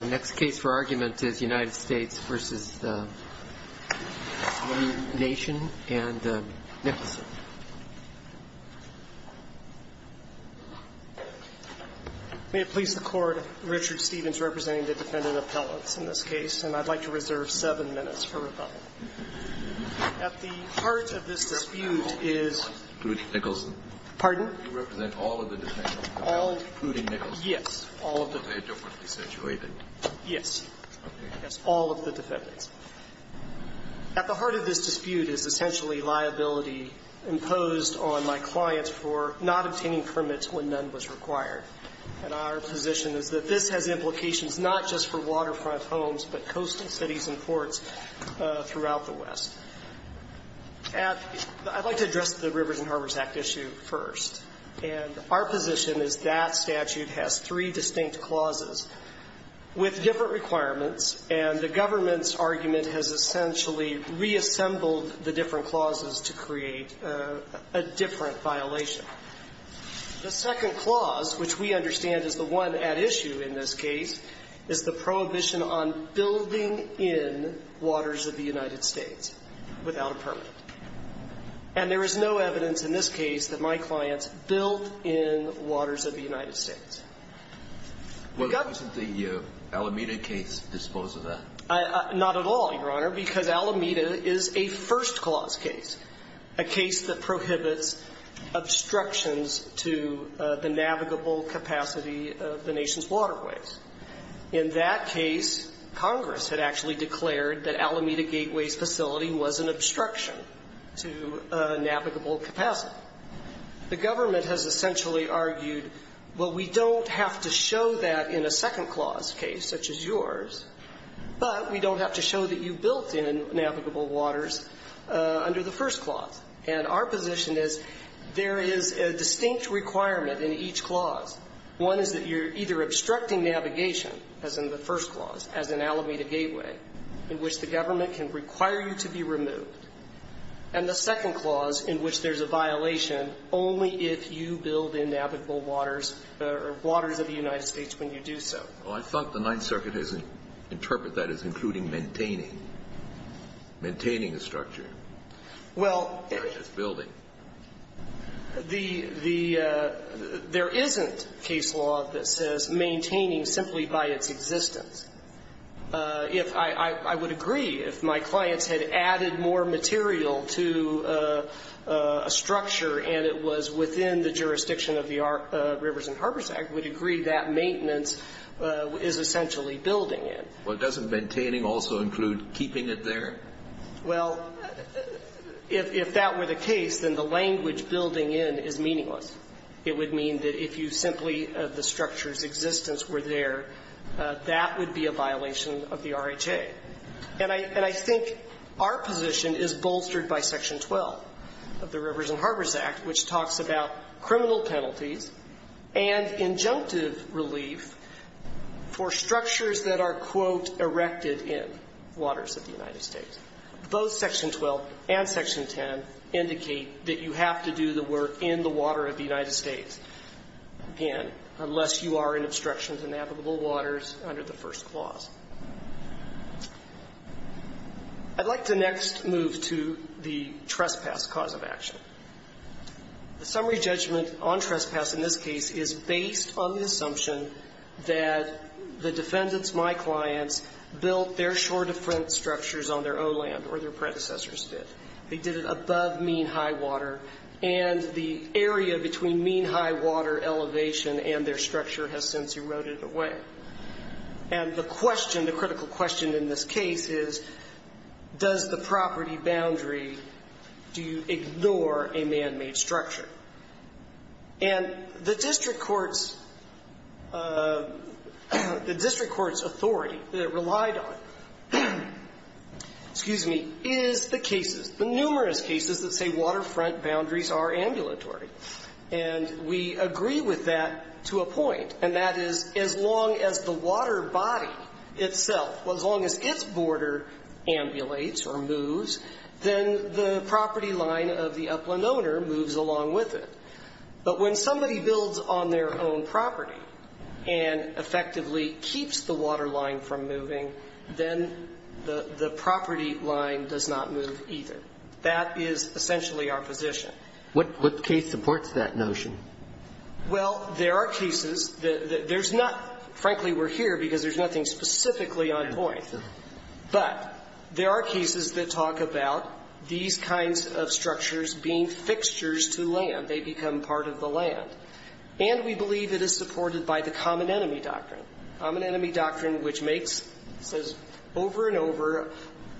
The next case for argument is United States v. One Nation and Nicholson. May it please the Court, Richard Stephens representing the defendant appellants in this case, and I'd like to reserve seven minutes for rebuttal. At the heart of this dispute is Pruding-Nicholson. Pardon? You represent all of the defendants, including Nicholson. Yes. All of the defendants. Are they differently situated? Yes. Okay. Yes. All of the defendants. At the heart of this dispute is essentially liability imposed on my client for not obtaining permits when none was required. And our position is that this has implications not just for waterfront homes, but coastal cities and ports throughout the West. I'd like to address the Rivers and Harbors Act issue first. And our position is that statute has three distinct clauses with different requirements. And the government's argument has essentially reassembled the different clauses to create a different violation. The second clause, which we understand is the one at issue in this case, is the prohibition on building in waters of the United States without a permit. And there is no evidence in this case that my clients built in waters of the United States. Well, doesn't the Alameda case dispose of that? Not at all, Your Honor, because Alameda is a first clause case, a case that prohibits obstructions to the navigable capacity of the nation's waterways. In that case, Congress had actually declared that Alameda Gateway's facility was an obstruction to navigable capacity. The government has essentially argued, well, we don't have to show that in a second clause case such as yours, but we don't have to show that you built in navigable waters under the first clause. And our position is there is a distinct requirement in each clause. One is that you're either obstructing navigation, as in the first clause, as in Alameda Gateway, in which the government can require you to be removed, and the second clause, in which there's a violation only if you build in navigable waters or waters of the United States when you do so. Well, I thought the Ninth Circuit has interpreted that as including maintaining, maintaining a structure, not just building. There isn't case law that says maintaining simply by its existence. If I would agree, if my clients had added more material to a structure and it was within the jurisdiction of the Rivers and Harbors Act, would agree that maintenance is essentially building it. Well, doesn't maintaining also include keeping it there? Well, if that were the case, then the language building in is meaningless. It would mean that if you simply, if the structure's existence were there, that would be a violation of the RHA. And I think our position is bolstered by Section 12 of the Rivers and Harbors Act, which talks about criminal penalties and injunctive relief for structures that are, quote, erected in waters of the United States. Both Section 12 and Section 10 indicate that you have to do the work in the water of the United States, and unless you are in obstruction to navigable waters under the first clause. I'd like to next move to the trespass cause of action. The summary judgment on trespass in this case is based on the assumption that the defendants, my clients, built their shore-to-front structures on their own land, or their predecessors did. They did it above mean high water, and the area between mean high water elevation and their structure has since eroded away. And the question, the critical question in this case is, does the property boundary do ignore a manmade structure? And the district court's authority that it relied on, excuse me, is the cases, the numerous cases that say waterfront boundaries are ambulatory. And we agree with that to a point, and that is as long as the water body itself, as long as its border ambulates or moves, then the property line of the upland owner moves along with it. But when somebody builds on their own property and effectively keeps the water line from moving, then the property line does not move either. That is essentially our position. What case supports that notion? Well, there are cases that there's not, frankly, we're here because there's nothing specifically on point. But there are cases that talk about these kinds of structures being fixtures to land. They become part of the land. And we believe it is supported by the common enemy doctrine, common enemy doctrine which makes, says over and over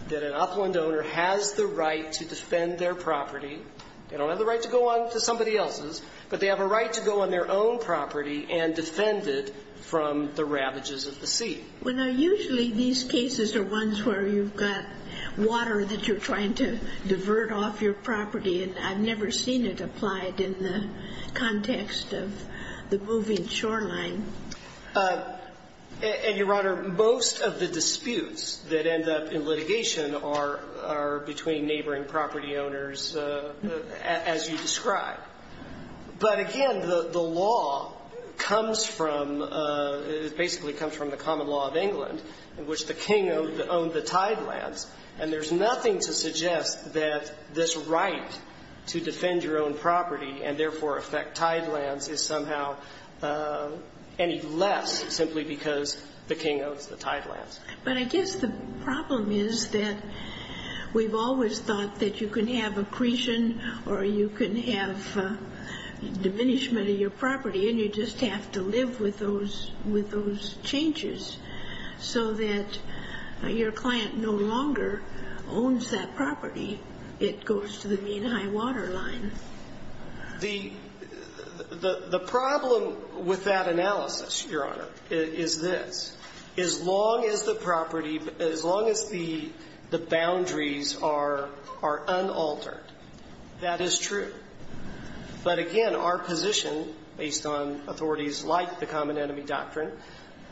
that an upland owner has the right to defend their property. They don't have the right to go on to somebody else's, but they have a right to go on their own property and defend it from the ravages of the sea. Well, now, usually these cases are ones where you've got water that you're trying to divert off your property, and I've never seen it applied in the context of the moving shoreline. And, Your Honor, most of the disputes that end up in litigation are between neighboring property owners, as you describe. But, again, the law comes from, basically comes from the common law of England in which the king owned the tidelands. And there's nothing to suggest that this right to defend your own property and, therefore, affect tidelands is somehow any less simply because the king owns the tidelands. But I guess the problem is that we've always thought that you can have accretion or you can have diminishment of your property, and you just have to live with those changes so that your client no longer owns that property. It goes to the mean high water line. The problem with that analysis, Your Honor, is this. As long as the property, as long as the boundaries are unaltered, that is true. But, again, our position, based on authorities like the common enemy doctrine,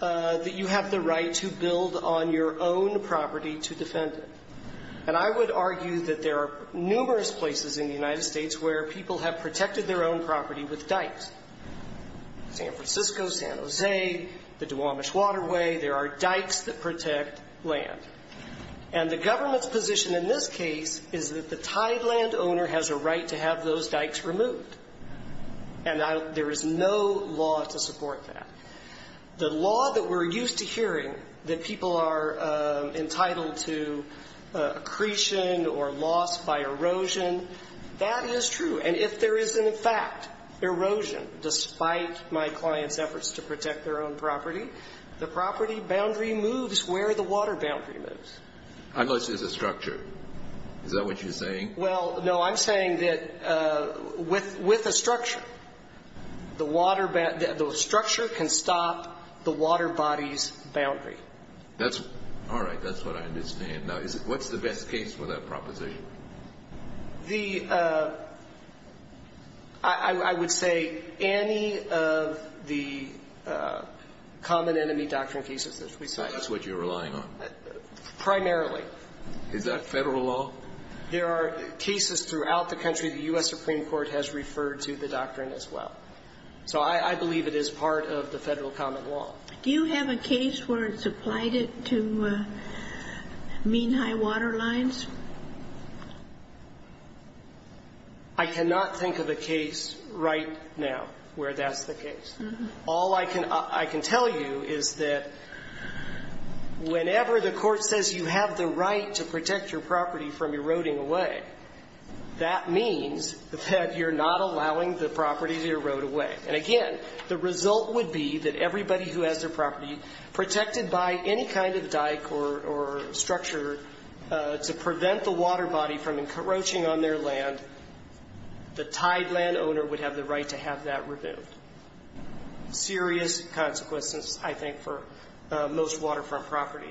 that you have the right to build on your own property to defend it. And I would argue that there are numerous places in the United States where people have protected their own property with dikes. San Francisco, San Jose, the Duwamish Waterway, there are dikes that protect land. And the government's position in this case is that the tideland owner has a right to have those dikes removed. And there is no law to support that. The law that we're used to hearing, that people are entitled to accretion or loss by erosion, that is true. And if there is, in fact, erosion, despite my client's efforts to protect their own property, the property boundary moves where the water boundary moves. Unless there's a structure. Is that what you're saying? Well, no. I'm saying that with a structure, the structure can stop the water body's boundary. All right. That's what I understand. Now, what's the best case for that proposition? The – I would say any of the common enemy doctrine cases that we cite. That's what you're relying on? Primarily. Is that Federal law? There are cases throughout the country the U.S. Supreme Court has referred to the doctrine as well. So I believe it is part of the Federal common law. Do you have a case where it's applied to mean high water lines? I cannot think of a case right now where that's the case. All I can tell you is that whenever the court says you have the right to protect your property from eroding away, that means that you're not allowing the property to erode away. And, again, the result would be that everybody who has their property protected by any kind of dyke or structure to prevent the water body from encroaching on their land, the tied land owner would have the right to have that removed. Serious consequences, I think, for most waterfront property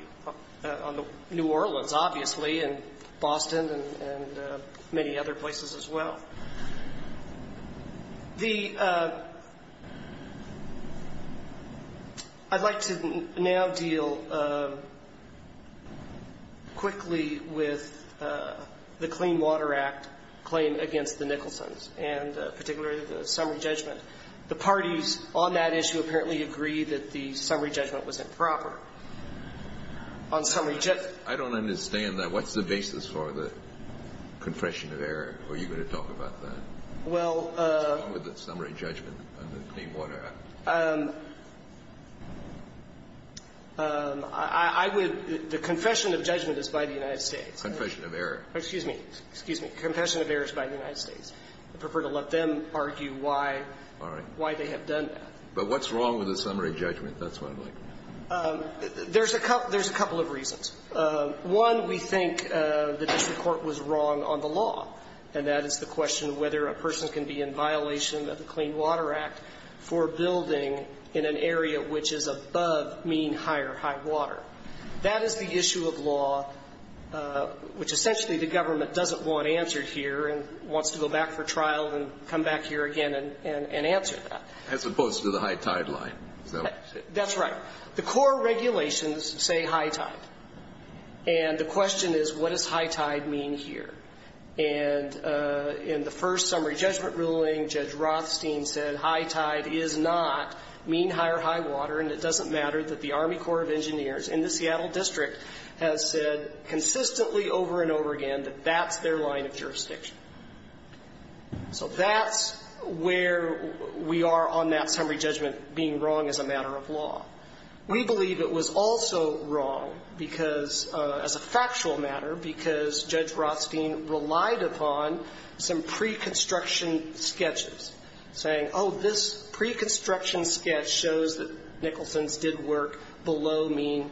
on the New Orleans, obviously, and Boston and many other places as well. The – I'd like to now deal quickly with the Clean Water Act claim against the Nicholson's and particularly the summary judgment. The parties on that issue apparently agree that the summary judgment was improper on summary – I don't understand that. What's the basis for the confession of error? Are you going to talk about that? Well – What's wrong with the summary judgment of the Clean Water Act? I would – the confession of judgment is by the United States. Confession of error. Excuse me. Excuse me. The confession of error is by the United States. I prefer to let them argue why – All right. Why they have done that. But what's wrong with the summary judgment? That's what I'm looking at. There's a couple of reasons. One, we think the district court was wrong on the law, and that is the question of whether a person can be in violation of the Clean Water Act for building in an area which is above mean higher high water. That is the issue of law, which essentially the government doesn't want answered here and wants to go back for trial and come back here again and answer that. As opposed to the high tide line. That's right. The core regulations say high tide. And the question is what does high tide mean here? And in the first summary judgment ruling, Judge Rothstein said high tide is not mean higher high water, and it doesn't matter that the Army Corps of Engineers in the Seattle district has said consistently over and over again that that's their line of jurisdiction. So that's where we are on that summary judgment being wrong as a matter of law. We believe it was also wrong because, as a factual matter, because Judge Rothstein relied upon some pre-construction sketches saying, oh, this pre-construction sketch shows that Nicholson's did work below mean,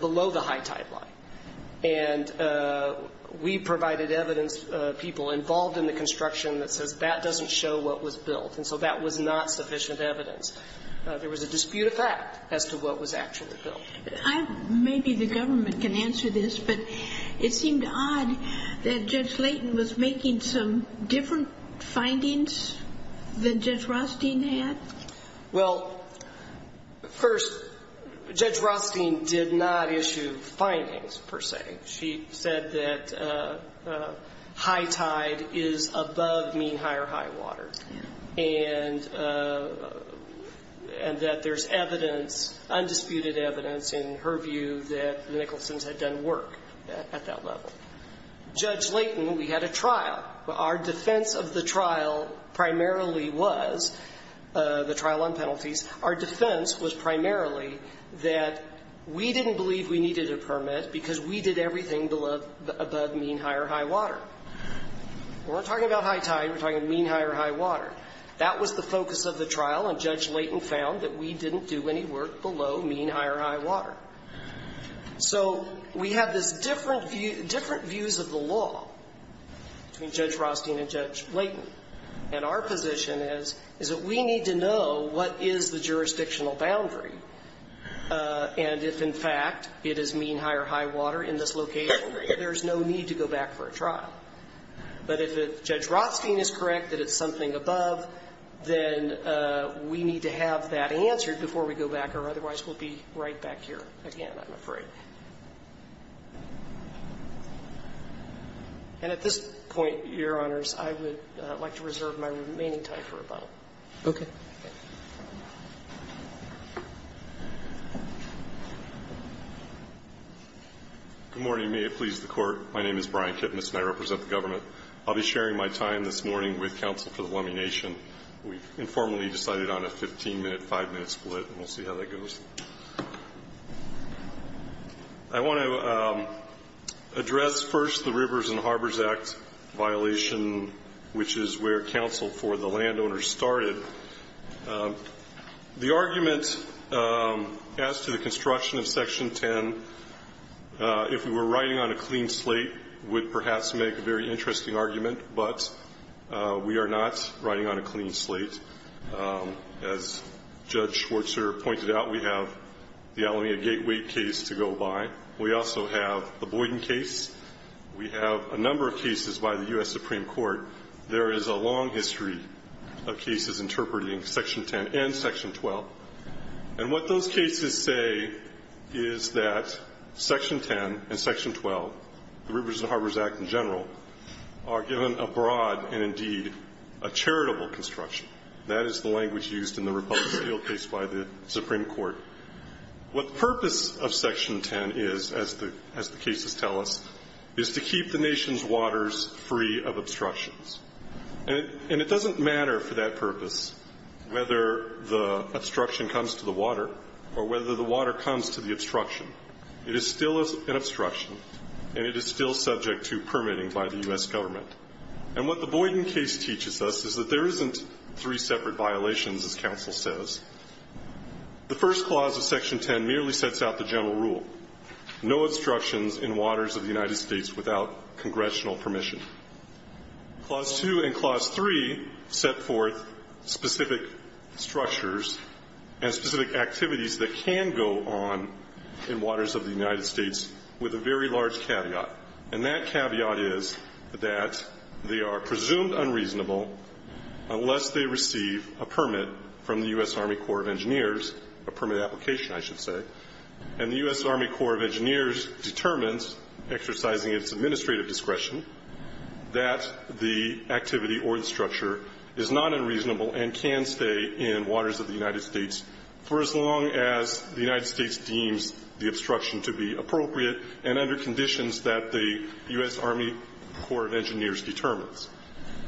below the high tide line. And we provided evidence, people involved in the construction, that says that doesn't show what was built. And so that was not sufficient evidence. There was a dispute of fact as to what was actually built. Maybe the government can answer this, but it seemed odd that Judge Layton was making some different findings than Judge Rothstein had. Well, first, Judge Rothstein did not issue findings, per se. She said that high tide is above mean higher high water. And that there's evidence, undisputed evidence, in her view that Nicholson's had done work at that level. Judge Layton, we had a trial. Our defense of the trial primarily was, the trial on penalties, our defense was primarily that we didn't believe we needed a permit because we did everything above mean higher high water. We're not talking about high tide. We're talking mean higher high water. That was the focus of the trial, and Judge Layton found that we didn't do any work below mean higher high water. So we had this different view, different views of the law between Judge Rothstein and Judge Layton. And our position is, is that we need to know what is the jurisdictional boundary. And if, in fact, it is mean higher high water in this location, there's no need to go back for a trial. But if Judge Rothstein is correct that it's something above, then we need to have that answered before we go back, or otherwise we'll be right back here again, I'm afraid. And at this point, Your Honors, I would like to reserve my remaining time for rebuttal. Okay. Okay. Good morning. May it please the Court. My name is Brian Kipnis, and I represent the government. I'll be sharing my time this morning with counsel for the Lummi Nation. We've informally decided on a 15-minute, 5-minute split, and we'll see how that goes. I want to address first the Rivers and Harbors Act violation, which is where counsel for the landowners started. The argument as to the construction of Section 10, if we were riding on a clean slate, would perhaps make a very interesting argument. But we are not riding on a clean slate. As Judge Schwartzer pointed out, we have the Alameda Gateway case to go by. We also have the Boyden case. We have a number of cases by the U.S. Supreme Court. There is a long history of cases interpreting Section 10 and Section 12. And what those cases say is that Section 10 and Section 12, the Rivers and Harbors Act in general, are given a broad and, indeed, a charitable construction. That is the language used in the Republic of Seattle case by the Supreme Court. What the purpose of Section 10 is, as the cases tell us, is to keep the nation's waters free of obstructions. And it doesn't matter for that purpose whether the obstruction comes to the water or whether the water comes to the obstruction. It is still an obstruction, and it is still subject to permitting by the U.S. government. And what the Boyden case teaches us is that there isn't three separate violations, as counsel says. The first clause of Section 10 merely sets out the general rule, no obstructions in waters of the United States without congressional permission. Clause 2 and Clause 3 set forth specific structures and specific activities that can go on in waters of the United States with a very large caveat. And that caveat is that they are presumed unreasonable unless they receive a permit from the U.S. Army Corps of Engineers, a permit application, I should say, and the U.S. Army Corps of Engineers determines, exercising its administrative discretion, that the activity or the structure is not unreasonable and can stay in waters of the United States for as long as the United States deems the obstruction to be appropriate and under conditions that the U.S. Army Corps of Engineers determines.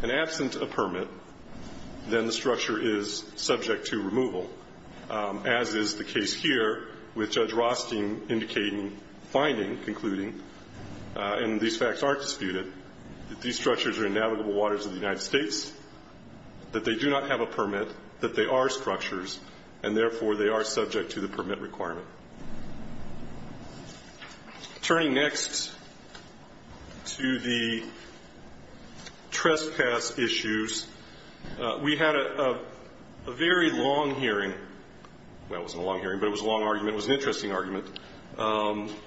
And absent a permit, then the structure is subject to removal, as is the case here with Judge Rothstein indicating, finding, concluding, and these facts aren't disputed, that these structures are in navigable waters of the United States, that they do not have a permit, that they are structures, and therefore they are subject to the permit requirement. Turning next to the trespass issues, we had a very long hearing. Well, it wasn't a long hearing, but it was a long argument. It was an interesting argument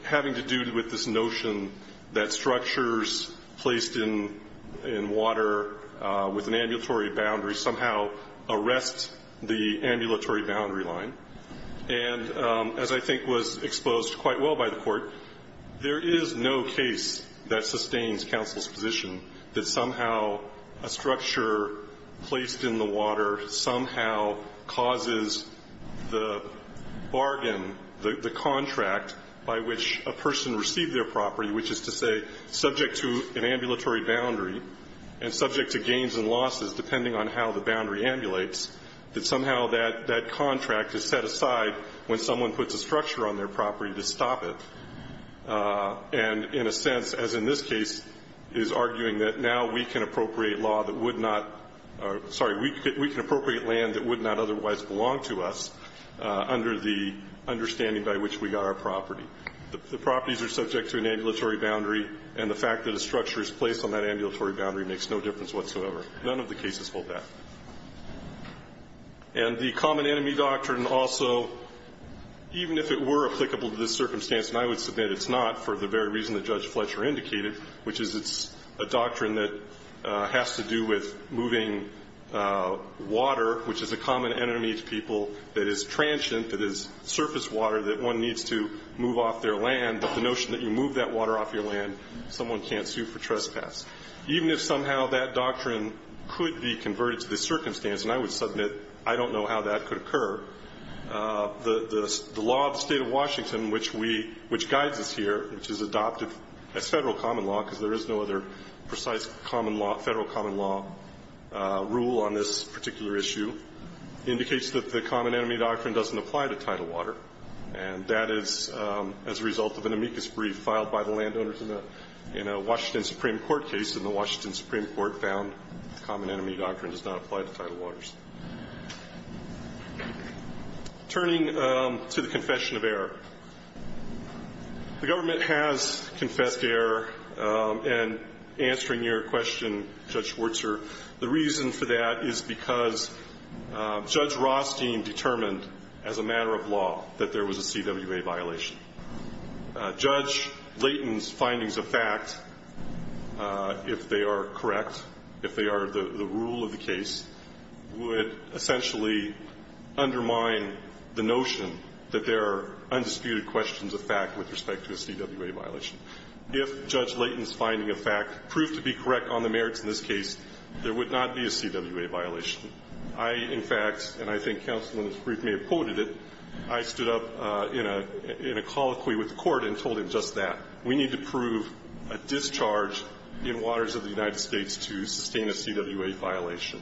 having to do with this notion that structures placed in water with an ambulatory boundary somehow arrest the ambulatory boundary line, and as I think was exposed quite well by the Court, there is no case that sustains counsel's position that somehow a structure placed in the water somehow causes the bargain, the contract by which a person received their property, which is to say subject to an ambulatory boundary and subject to gains and losses depending on how the boundary ambulates, that somehow that contract is set aside when someone puts a structure on their property to stop it. And in a sense, as in this case, is arguing that now we can appropriate law that would not or, sorry, we can appropriate land that would not otherwise belong to us under the understanding by which we got our property. The properties are subject to an ambulatory boundary, and the fact that a structure is placed on that ambulatory boundary makes no difference whatsoever. None of the cases hold that. And the common enemy doctrine also, even if it were applicable to this circumstance, and I would submit it's not for the very reason that Judge Fletcher indicated, which is it's a doctrine that has to do with moving water, which is a common enemy to people, that is transient, that is surface water, that one needs to move off their land if someone can't sue for trespass. Even if somehow that doctrine could be converted to this circumstance, and I would submit I don't know how that could occur, the law of the State of Washington, which guides us here, which is adopted as Federal common law, because there is no other precise Federal common law rule on this particular issue, indicates that the common enemy doctrine doesn't apply to tidal water. And that is as a result of an amicus brief filed by the landowners in a Washington Supreme Court case, and the Washington Supreme Court found the common enemy doctrine does not apply to tidal waters. Turning to the confession of error. The government has confessed to error in answering your question, Judge Schwartzer. The reason for that is because Judge Rothstein determined as a matter of law that there was a CWA violation. Judge Layton's findings of fact, if they are correct, if they are the rule of the case, would essentially undermine the notion that there are undisputed questions of fact with respect to a CWA violation. If Judge Layton's finding of fact proved to be correct on the merits in this case, there would not be a CWA violation. I, in fact, and I think counsel in this brief may have quoted it, I stood up in a colloquy with the Court and told him just that. We need to prove a discharge in waters of the United States to sustain a CWA violation.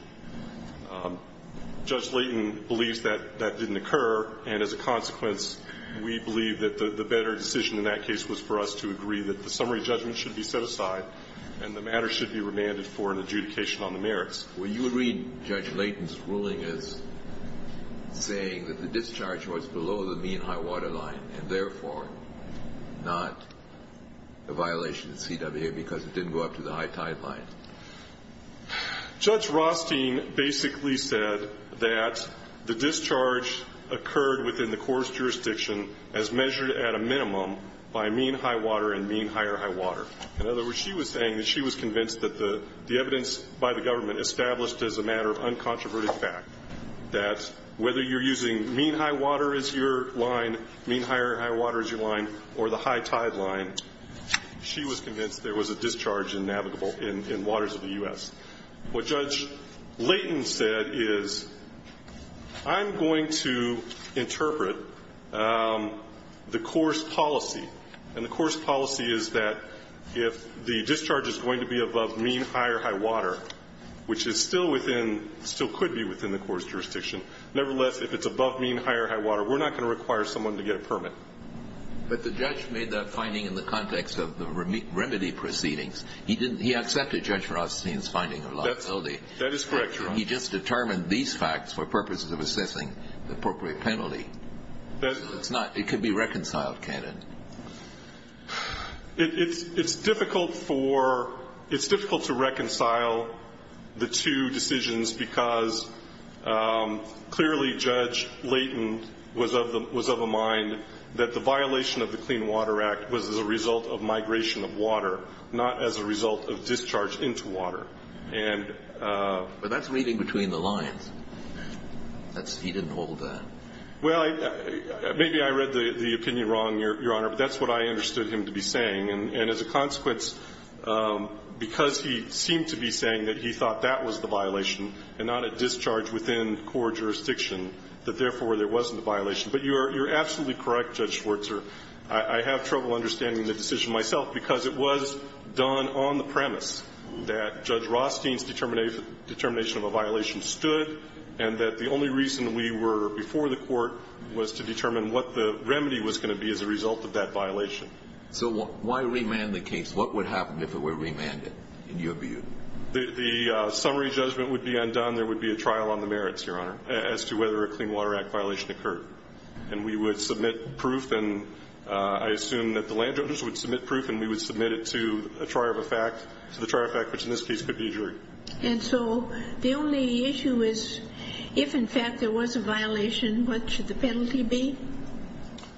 Judge Layton believes that that didn't occur, and as a consequence, we believe that the better decision in that case was for us to agree that the summary judgment should be set aside, and the matter should be remanded for an adjudication on the merits. Well, you would read Judge Layton's ruling as saying that the discharge was below the mean high-water line, and therefore not a violation of CWA because it didn't go up to the high-tide line. Judge Rothstein basically said that the discharge occurred within the court's jurisdiction as measured at a minimum by mean high-water and mean higher-high-water. In other words, she was saying that she was convinced that the evidence by the government established as a matter of uncontroverted fact that whether you're using mean high-water as your line, mean higher-high-water as your line, or the high-tide line, she was convinced there was a discharge in navigable, in waters of the U.S. What Judge Layton said is, I'm going to interpret the court's policy, and the court's policy is that if the discharge is going to be above mean higher-high-water, which is still within, still could be within the court's jurisdiction, nevertheless, if it's above mean higher-high-water, we're not going to require someone to get a permit. But the judge made that finding in the context of the remedy proceedings. He didn't, he accepted Judge Rothstein's finding of liability. That is correct, Your Honor. He just determined these facts for purposes of assessing the appropriate penalty. That's not, it could be reconciled, can it? It's difficult for, it's difficult to reconcile the two decisions because clearly Judge Layton was of a mind that the violation of the Clean Water Act was as a result of migration of water, not as a result of discharge into water. But that's reading between the lines. He didn't hold that. Well, maybe I read the opinion wrong, Your Honor, but that's what I understood him to be saying. And as a consequence, because he seemed to be saying that he thought that was the violation and not a discharge within core jurisdiction, that therefore there wasn't a violation. But you're absolutely correct, Judge Schwartzer. I have trouble understanding the decision myself because it was done on the premise that Judge Rothstein's determination of a violation stood and that the only reason we were before the Court was to determine what the remedy was going to be as a result of that violation. So why remand the case? What would happen if it were remanded, in your view? The summary judgment would be undone. There would be a trial on the merits, Your Honor, as to whether a Clean Water Act violation occurred. And we would submit proof, and I assume that the landowners would submit proof, and we would submit it to a trier of a fact, to the trier of a fact, which in this case could be a jury. And so the only issue is if, in fact, there was a violation, what should the penalty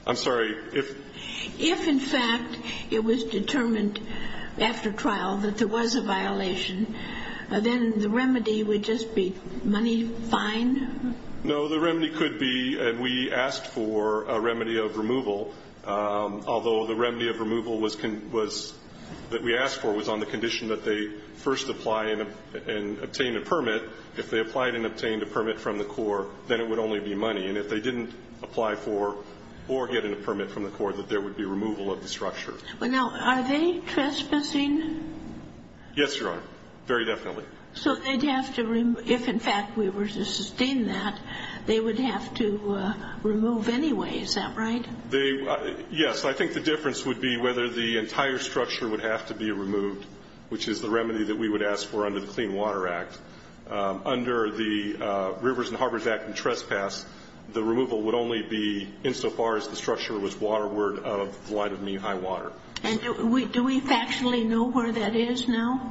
I'm sorry. If, in fact, it was determined after trial that there was a violation, then the remedy would just be money fine? No. The remedy could be we asked for a remedy of removal, although the remedy of removal was that we asked for was on the condition that they first apply and obtain a permit. If they applied and obtained a permit from the Corps, then it would only be money. And if they didn't apply for or get a permit from the Corps, that there would be removal of the structure. Now, are they trespassing? Yes, Your Honor. Very definitely. So they'd have to, if, in fact, we were to sustain that, they would have to remove anyway. Is that right? Yes. I think the difference would be whether the entire structure would have to be removed, which is the remedy that we would ask for under the Clean Water Act. Under the Rivers and Harbors Act and trespass, the removal would only be insofar as the structure was waterward out of the line of mean high water. And do we factually know where that is now?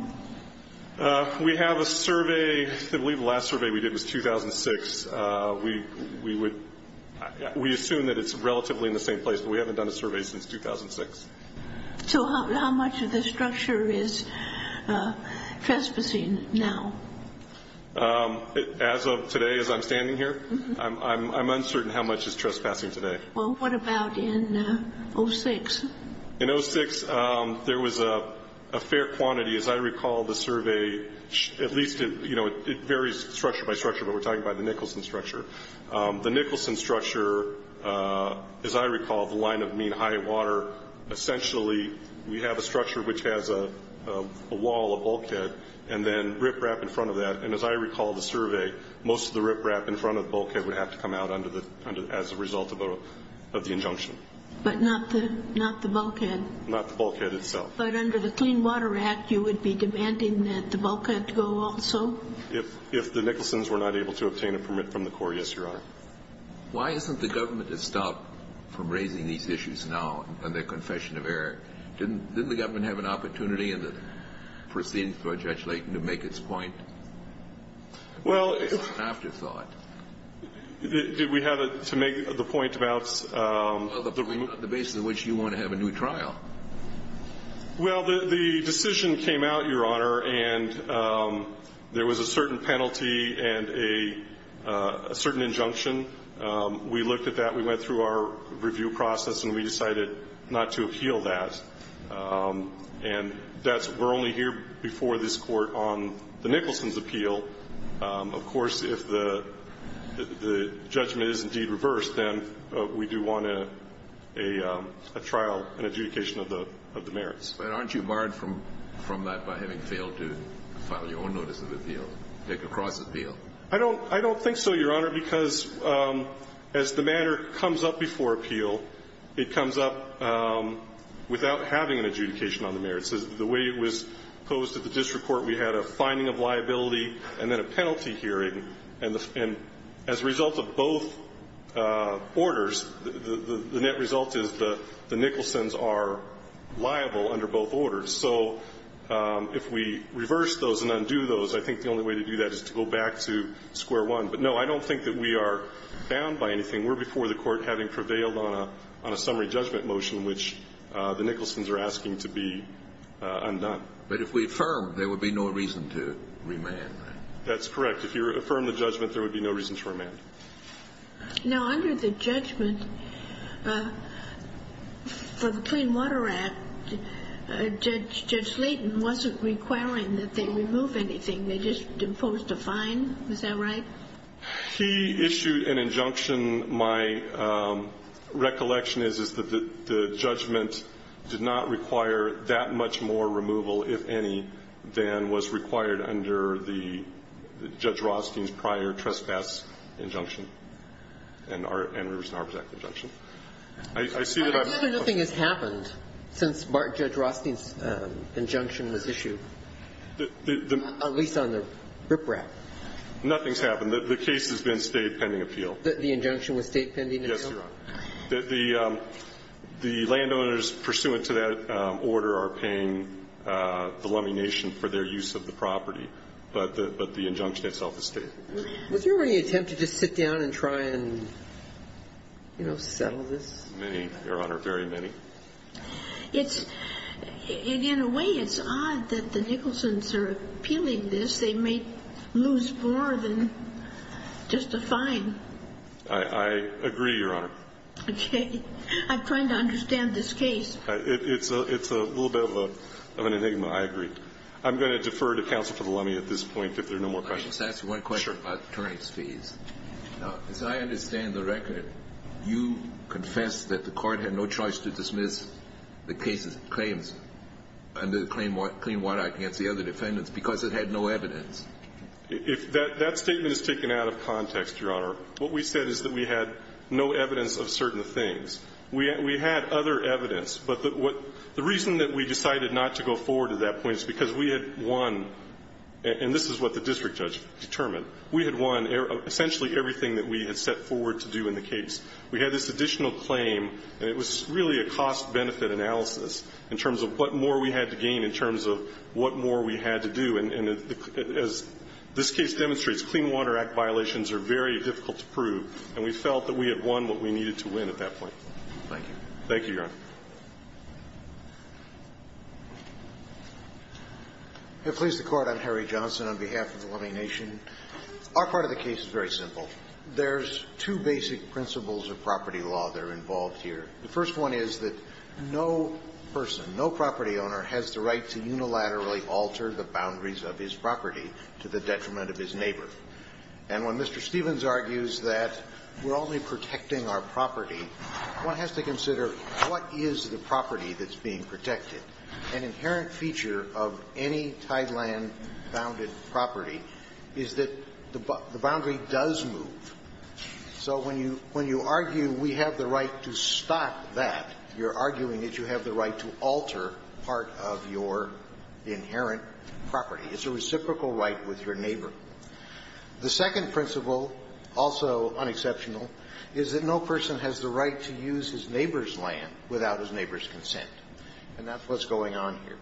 We have a survey. I believe the last survey we did was 2006. We assume that it's relatively in the same place, but we haven't done a survey since 2006. So how much of the structure is trespassing now? As of today, as I'm standing here, I'm uncertain how much is trespassing today. Well, what about in 2006? In 2006, there was a fair quantity. As I recall, the survey, at least, you know, it varies structure by structure, but we're talking about the Nicholson structure. The Nicholson structure, as I recall, the line of mean high water, essentially we have a structure which has a wall, a bulkhead, and then riprap in front of that. And as I recall the survey, most of the riprap in front of the bulkhead would have to come out as a result of the injunction. But not the bulkhead? Not the bulkhead itself. But under the Clean Water Act, you would be demanding that the bulkhead go also? If the Nicholson's were not able to obtain a permit from the court, yes, Your Honor. Why hasn't the government stopped from raising these issues now under Confession of Error? Didn't the government have an opportunity in the proceedings before Judge Layton to make its point? Well. It's an afterthought. Did we have to make the point about? The basis on which you want to have a new trial. Well, the decision came out, Your Honor, and there was a certain penalty and a certain injunction. We looked at that. We went through our review process, and we decided not to appeal that. And that's we're only here before this Court on the Nicholson's appeal. Of course, if the judgment is indeed reversed, then we do want a trial and adjudication of the merits. But aren't you barred from that by having failed to file your own notice of appeal, take a cross appeal? I don't think so, Your Honor, because as the matter comes up before appeal, it comes up without having an adjudication on the merits. The way it was posed at the district court, we had a finding of liability and then a penalty hearing, and as a result of both orders, the net result is the Nicholson's are liable under both orders. So if we reverse those and undo those, I think the only way to do that is to go back to square one. But, no, I don't think that we are bound by anything. We're before the Court having prevailed on a summary judgment motion which the Nicholson's are asking to be undone. But if we affirm, there would be no reason to remand. That's correct. If you affirm the judgment, there would be no reason to remand. Now, under the judgment for the Clean Water Act, Judge Slaton wasn't requiring that they remove anything. They just imposed a fine. Is that right? He issued an injunction. My recollection is that the judgment did not require that much more removal, if any, than was required under the Judge Rothstein's prior trespass injunction and Rivers and Harbors Act injunction. I see that I've been questioned. But nothing has happened since Judge Rothstein's injunction was issued, at least on the riprap. Nothing's happened. The case has been State pending appeal. The injunction was State pending appeal? Yes, Your Honor. The landowners pursuant to that order are paying the Lummi Nation for their use of the property. But the injunction itself is State. Was there any attempt to just sit down and try and, you know, settle this? Many, Your Honor. Very many. In a way, it's odd that the Nicholson's are appealing this. They may lose more than just a fine. I agree, Your Honor. Okay. I'm trying to understand this case. It's a little bit of an enigma. I agree. I'm going to defer to counsel for the Lummi at this point if there are no more questions. Let me just ask you one question about attorney's fees. Now, as I understand the record, you confessed that the court had no choice to dismiss the case's claims under the Clean Water Act against the other defendants because it had no evidence. If that statement is taken out of context, Your Honor, what we said is that we had no evidence of certain things. We had other evidence, but the reason that we decided not to go forward at that point is because we had won, and this is what the district judge determined, we had won essentially everything that we had set forward to do in the case. We had this additional claim, and it was really a cost-benefit analysis in terms of what more we had to gain in terms of what more we had to do. And as this case demonstrates, Clean Water Act violations are very difficult to prove, and we felt that we had won what we needed to win at that point. Thank you. Thank you, Your Honor. If it please the Court, I'm Harry Johnson on behalf of the Lummi Nation. Our part of the case is very simple. There's two basic principles of property law that are involved here. The first one is that no person, no property owner has the right to unilaterally alter the boundaries of his property to the detriment of his neighbor. And when Mr. Stevens argues that we're only protecting our property, one has to consider what is the property that's being protected. An inherent feature of any Tideland-bounded property is that the boundary does move. So when you argue we have the right to stop that, you're arguing that you have the right to alter part of your inherent property. It's a reciprocal right with your neighbor. The second principle, also unexceptional, is that no person has the right to use his neighbor's land without his neighbor's consent. And that's what's going on here.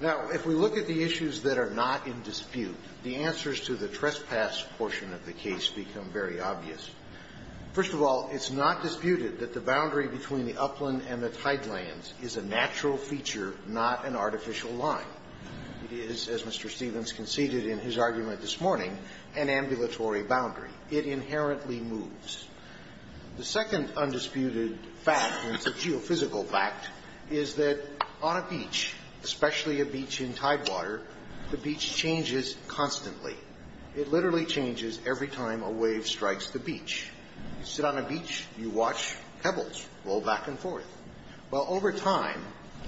Now, if we look at the issues that are not in dispute, the answers to the trespass portion of the case become very obvious. First of all, it's not disputed that the boundary between the upland and the Tidelands is a natural feature, not an artificial line. It is, as Mr. Stevens conceded in his argument this morning, an ambulatory boundary. It inherently moves. The second undisputed fact, and it's a geophysical fact, is that on a beach, especially a beach in Tidewater, the beach changes constantly. It literally changes every time a wave strikes the beach. You sit on a beach, you watch pebbles roll back and forth. Well, over time,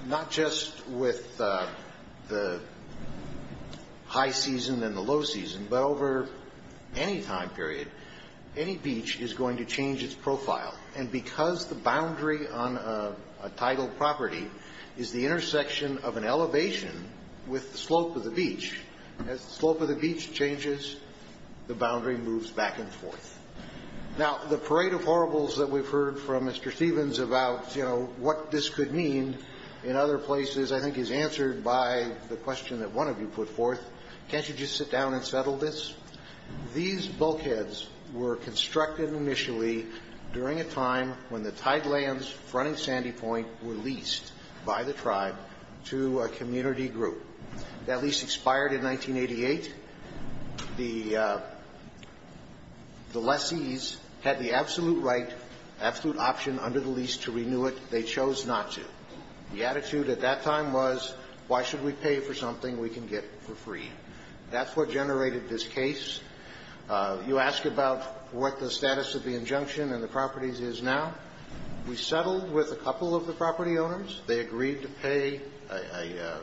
not just with the high season and the low season, but over any time period, any beach is going to change its profile. And because the boundary on a tidal property is the intersection of an elevation with the slope of the beach, as the slope of the beach changes, the boundary moves back and forth. Now, the parade of horribles that we've heard from Mr. Stevens about, you know, what this could mean in other places I think is answered by the question that one of you put forth. Can't you just sit down and settle this? These bulkheads were constructed initially during a time when the Tidelands, Front and Sandy Point, were leased by the tribe to a community group. That lease expired in 1988. The lessees had the absolute right, absolute option under the lease to renew it. They chose not to. The attitude at that time was, why should we pay for something we can get for free? That's what generated this case. You ask about what the status of the injunction and the properties is now. We settled with a couple of the property owners. They agreed to pay a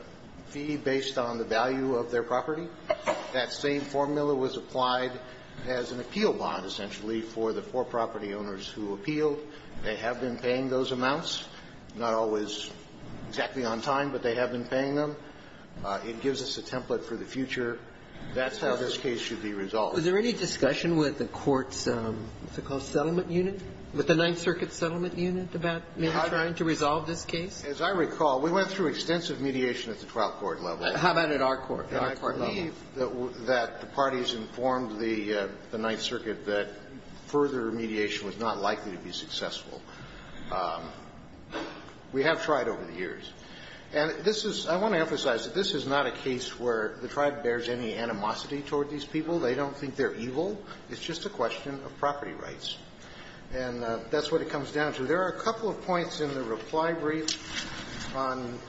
fee based on the value of their property. That same formula was applied as an appeal bond, essentially, for the four property owners who appealed. They have been paying those amounts. Not always exactly on time, but they have been paying them. It gives us a template for the future. That's how this case should be resolved. Was there any discussion with the court's, what's it called, settlement unit, with the Ninth Circuit settlement unit about maybe trying to resolve this case? As I recall, we went through extensive mediation at the twelfth court level. How about at our court level? And I believe that the parties informed the Ninth Circuit that further mediation was not likely to be successful. We have tried over the years. And this is – I want to emphasize that this is not a case where the tribe bears any animosity toward these people. They don't think they're evil. It's just a question of property rights. And that's what it comes down to. There are a couple of points in the reply brief on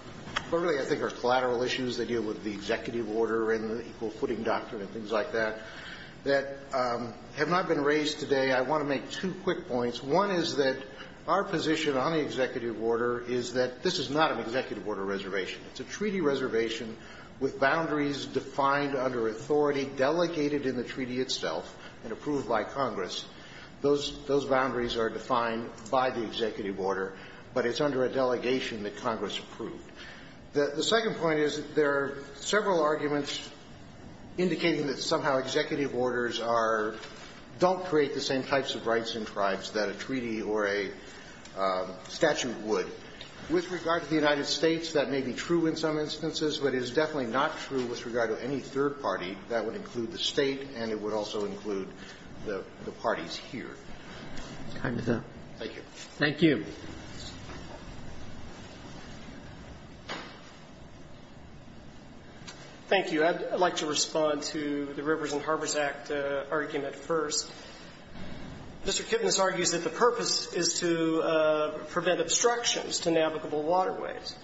what really I think are collateral issues that deal with the executive order and the Equal Footing Doctrine and things like that that have not been raised today. I want to make two quick points. One is that our position on the executive order is that this is not an executive order reservation. It's a treaty reservation with boundaries defined under authority, delegated in the treaty itself and approved by Congress. Those boundaries are defined by the executive order, but it's under a delegation that Congress approved. The second point is that there are several arguments indicating that somehow executive orders are – don't create the same types of rights in tribes that a treaty or a statute would. With regard to the United States, that may be true in some instances, but it is definitely not true with regard to any third party. That would include the State and it would also include the parties here. Roberts. Thank you. Thank you. Thank you. I'd like to respond to the Rivers and Harbors Act argument first. Mr. Kipnis argues that the purpose is to prevent obstructions to navigable waterways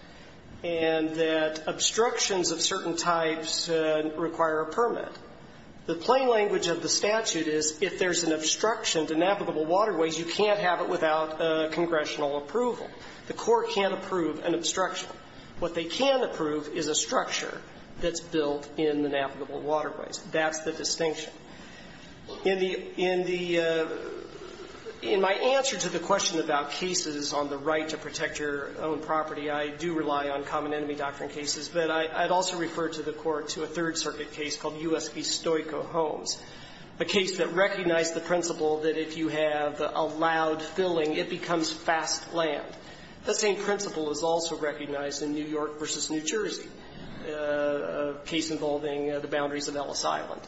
and that obstructions of certain types require a permit. The plain language of the statute is if there's an obstruction to navigable waterways, it requires congressional approval. The court can't approve an obstruction. What they can approve is a structure that's built in the navigable waterways. That's the distinction. In the – in the – in my answer to the question about cases on the right to protect your own property, I do rely on common enemy doctrine cases, but I'd also refer to the court to a Third Circuit case called U.S. v. Stoico Homes, a case that recognized the principle that if you have allowed filling, it becomes fast land. The same principle is also recognized in New York v. New Jersey, a case involving the boundaries of Ellis Island.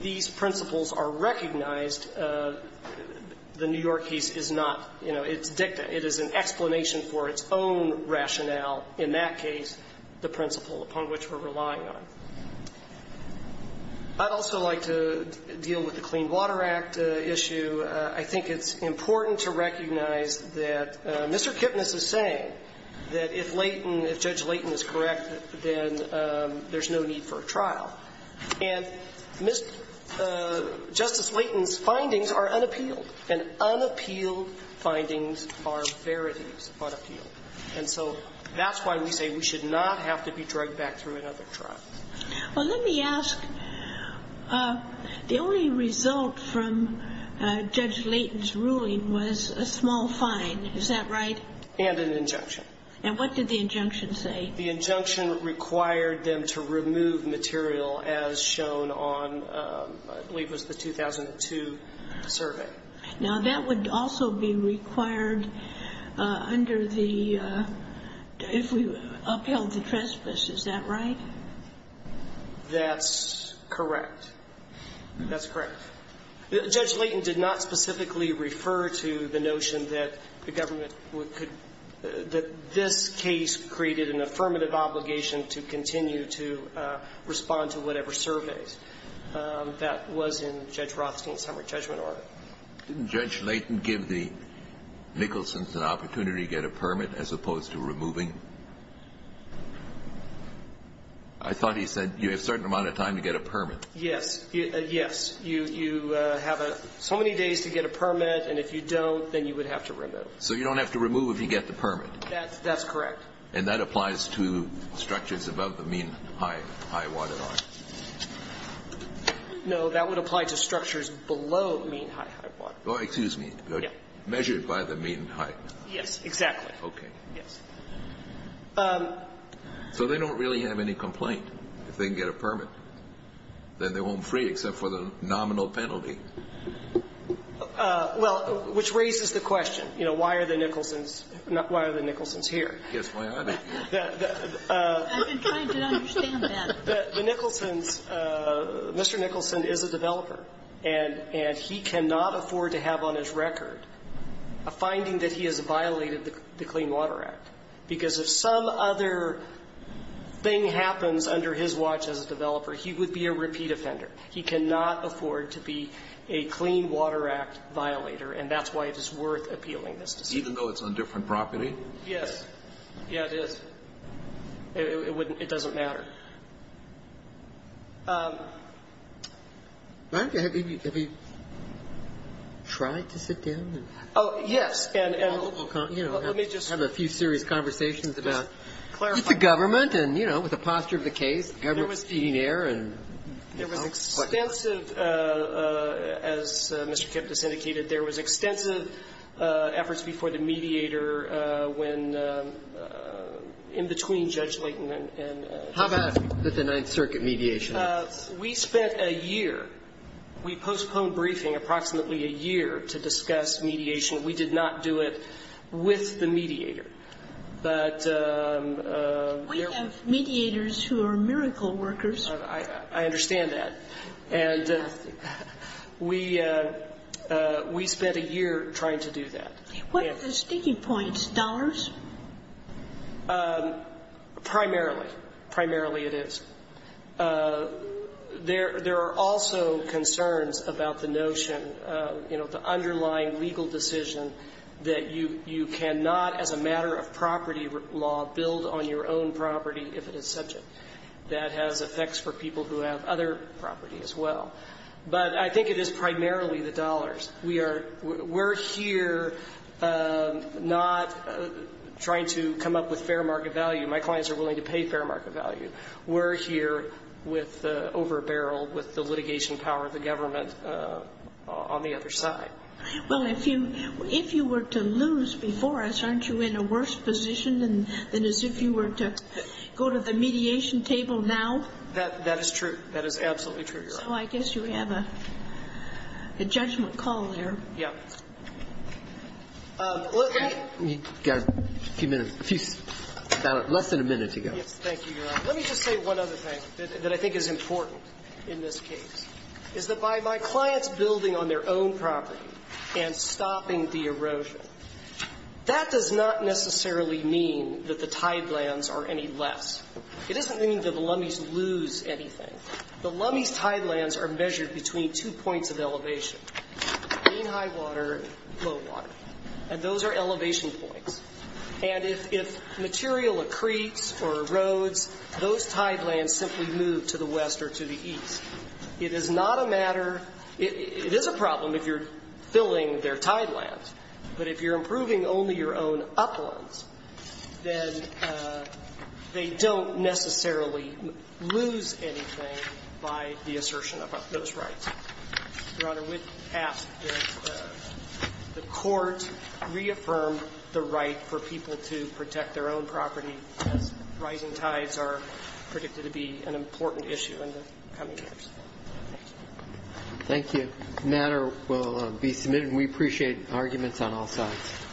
These principles are recognized. The New York case is not, you know, it's dicta. It is an explanation for its own rationale in that case, the principle upon which we're relying on. I'd also like to deal with the Clean Water Act issue. I think it's important to recognize that Mr. Kipnis is saying that if Leighton – if Judge Leighton is correct, then there's no need for a trial. And Mr. – Justice Leighton's findings are unappealed, and unappealed findings are verities of unappealed. And so that's why we say we should not have to be drugged back through another trial. Well, let me ask, the only result from Judge Leighton's ruling was a small fine. Is that right? And an injunction. And what did the injunction say? The injunction required them to remove material as shown on, I believe it was the 2002 survey. Now, that would also be required under the – if we upheld the trespass. Is that right? That's correct. That's correct. Judge Leighton did not specifically refer to the notion that the government could – that this case created an affirmative obligation to continue to respond to whatever surveys that was in Judge Rothstein's summary judgment order. Didn't Judge Leighton give the Nicholsons an opportunity to get a permit as opposed to removing? I thought he said you have a certain amount of time to get a permit. Yes. Yes. You have so many days to get a permit, and if you don't, then you would have to remove. So you don't have to remove if you get the permit. That's correct. And that applies to structures above the mean high waterline? No. That would apply to structures below mean high high waterline. Oh, excuse me. Measured by the mean high. Yes. Exactly. Okay. Yes. So they don't really have any complaint if they can get a permit? Then they won't free except for the nominal penalty? Well, which raises the question, you know, why are the Nicholsons here? I guess why are they here? I've been trying to understand that. The Nicholsons – Mr. Nicholson is a developer, and he cannot afford to have on his watch a clean water act. Because if some other thing happens under his watch as a developer, he would be a repeat offender. He cannot afford to be a clean water act violator, and that's why it is worth appealing this decision. Even though it's on different property? Yes. Yes, it is. It doesn't matter. Have you tried to sit down and – Oh, yes. And let me just – You know, have a few serious conversations about the government and, you know, with the posture of the case. There was extensive, as Mr. Kipnis indicated, there was extensive efforts before the mediator when in between Judge Layton and – How bad was the Ninth Circuit mediation? We spent a year. We postponed briefing approximately a year to discuss mediation. We did not do it with the mediator. But – We have mediators who are miracle workers. I understand that. And we spent a year trying to do that. What are the sticking points? Dollars? Primarily. Primarily it is. There are also concerns about the notion, you know, the underlying legal decision that you cannot, as a matter of property law, build on your own property if it is subject. That has effects for people who have other property as well. But I think it is primarily the dollars. We are – we're here not trying to come up with fair market value. My clients are willing to pay fair market value. We're here with the over-barrel, with the litigation power of the government on the other side. Well, if you were to lose before us, aren't you in a worse position than as if you were to go to the mediation table now? That is true. That is absolutely true, Your Honor. So I guess you have a judgment call there. Yeah. We've got a few minutes. Less than a minute to go. Yes. Thank you, Your Honor. Let me just say one other thing that I think is important in this case, is that by my clients building on their own property and stopping the erosion, that does not necessarily mean that the tidelands are any less. It doesn't mean that the Lummies lose anything. The Lummies tidelands are measured between two points of elevation, mean high water and low water. And those are elevation points. And if material accretes or erodes, those tidelands simply move to the west or to the east. It is not a matter of – it is a problem if you're filling their tidelands, but if you're improving only your own uplands, then they don't necessarily lose anything by the assertion of those rights. Your Honor, we ask that the Court reaffirm the right for people to protect their own property as rising tides are predicted to be an important issue in the coming years. Thank you. The matter will be submitted. We appreciate arguments on all sides.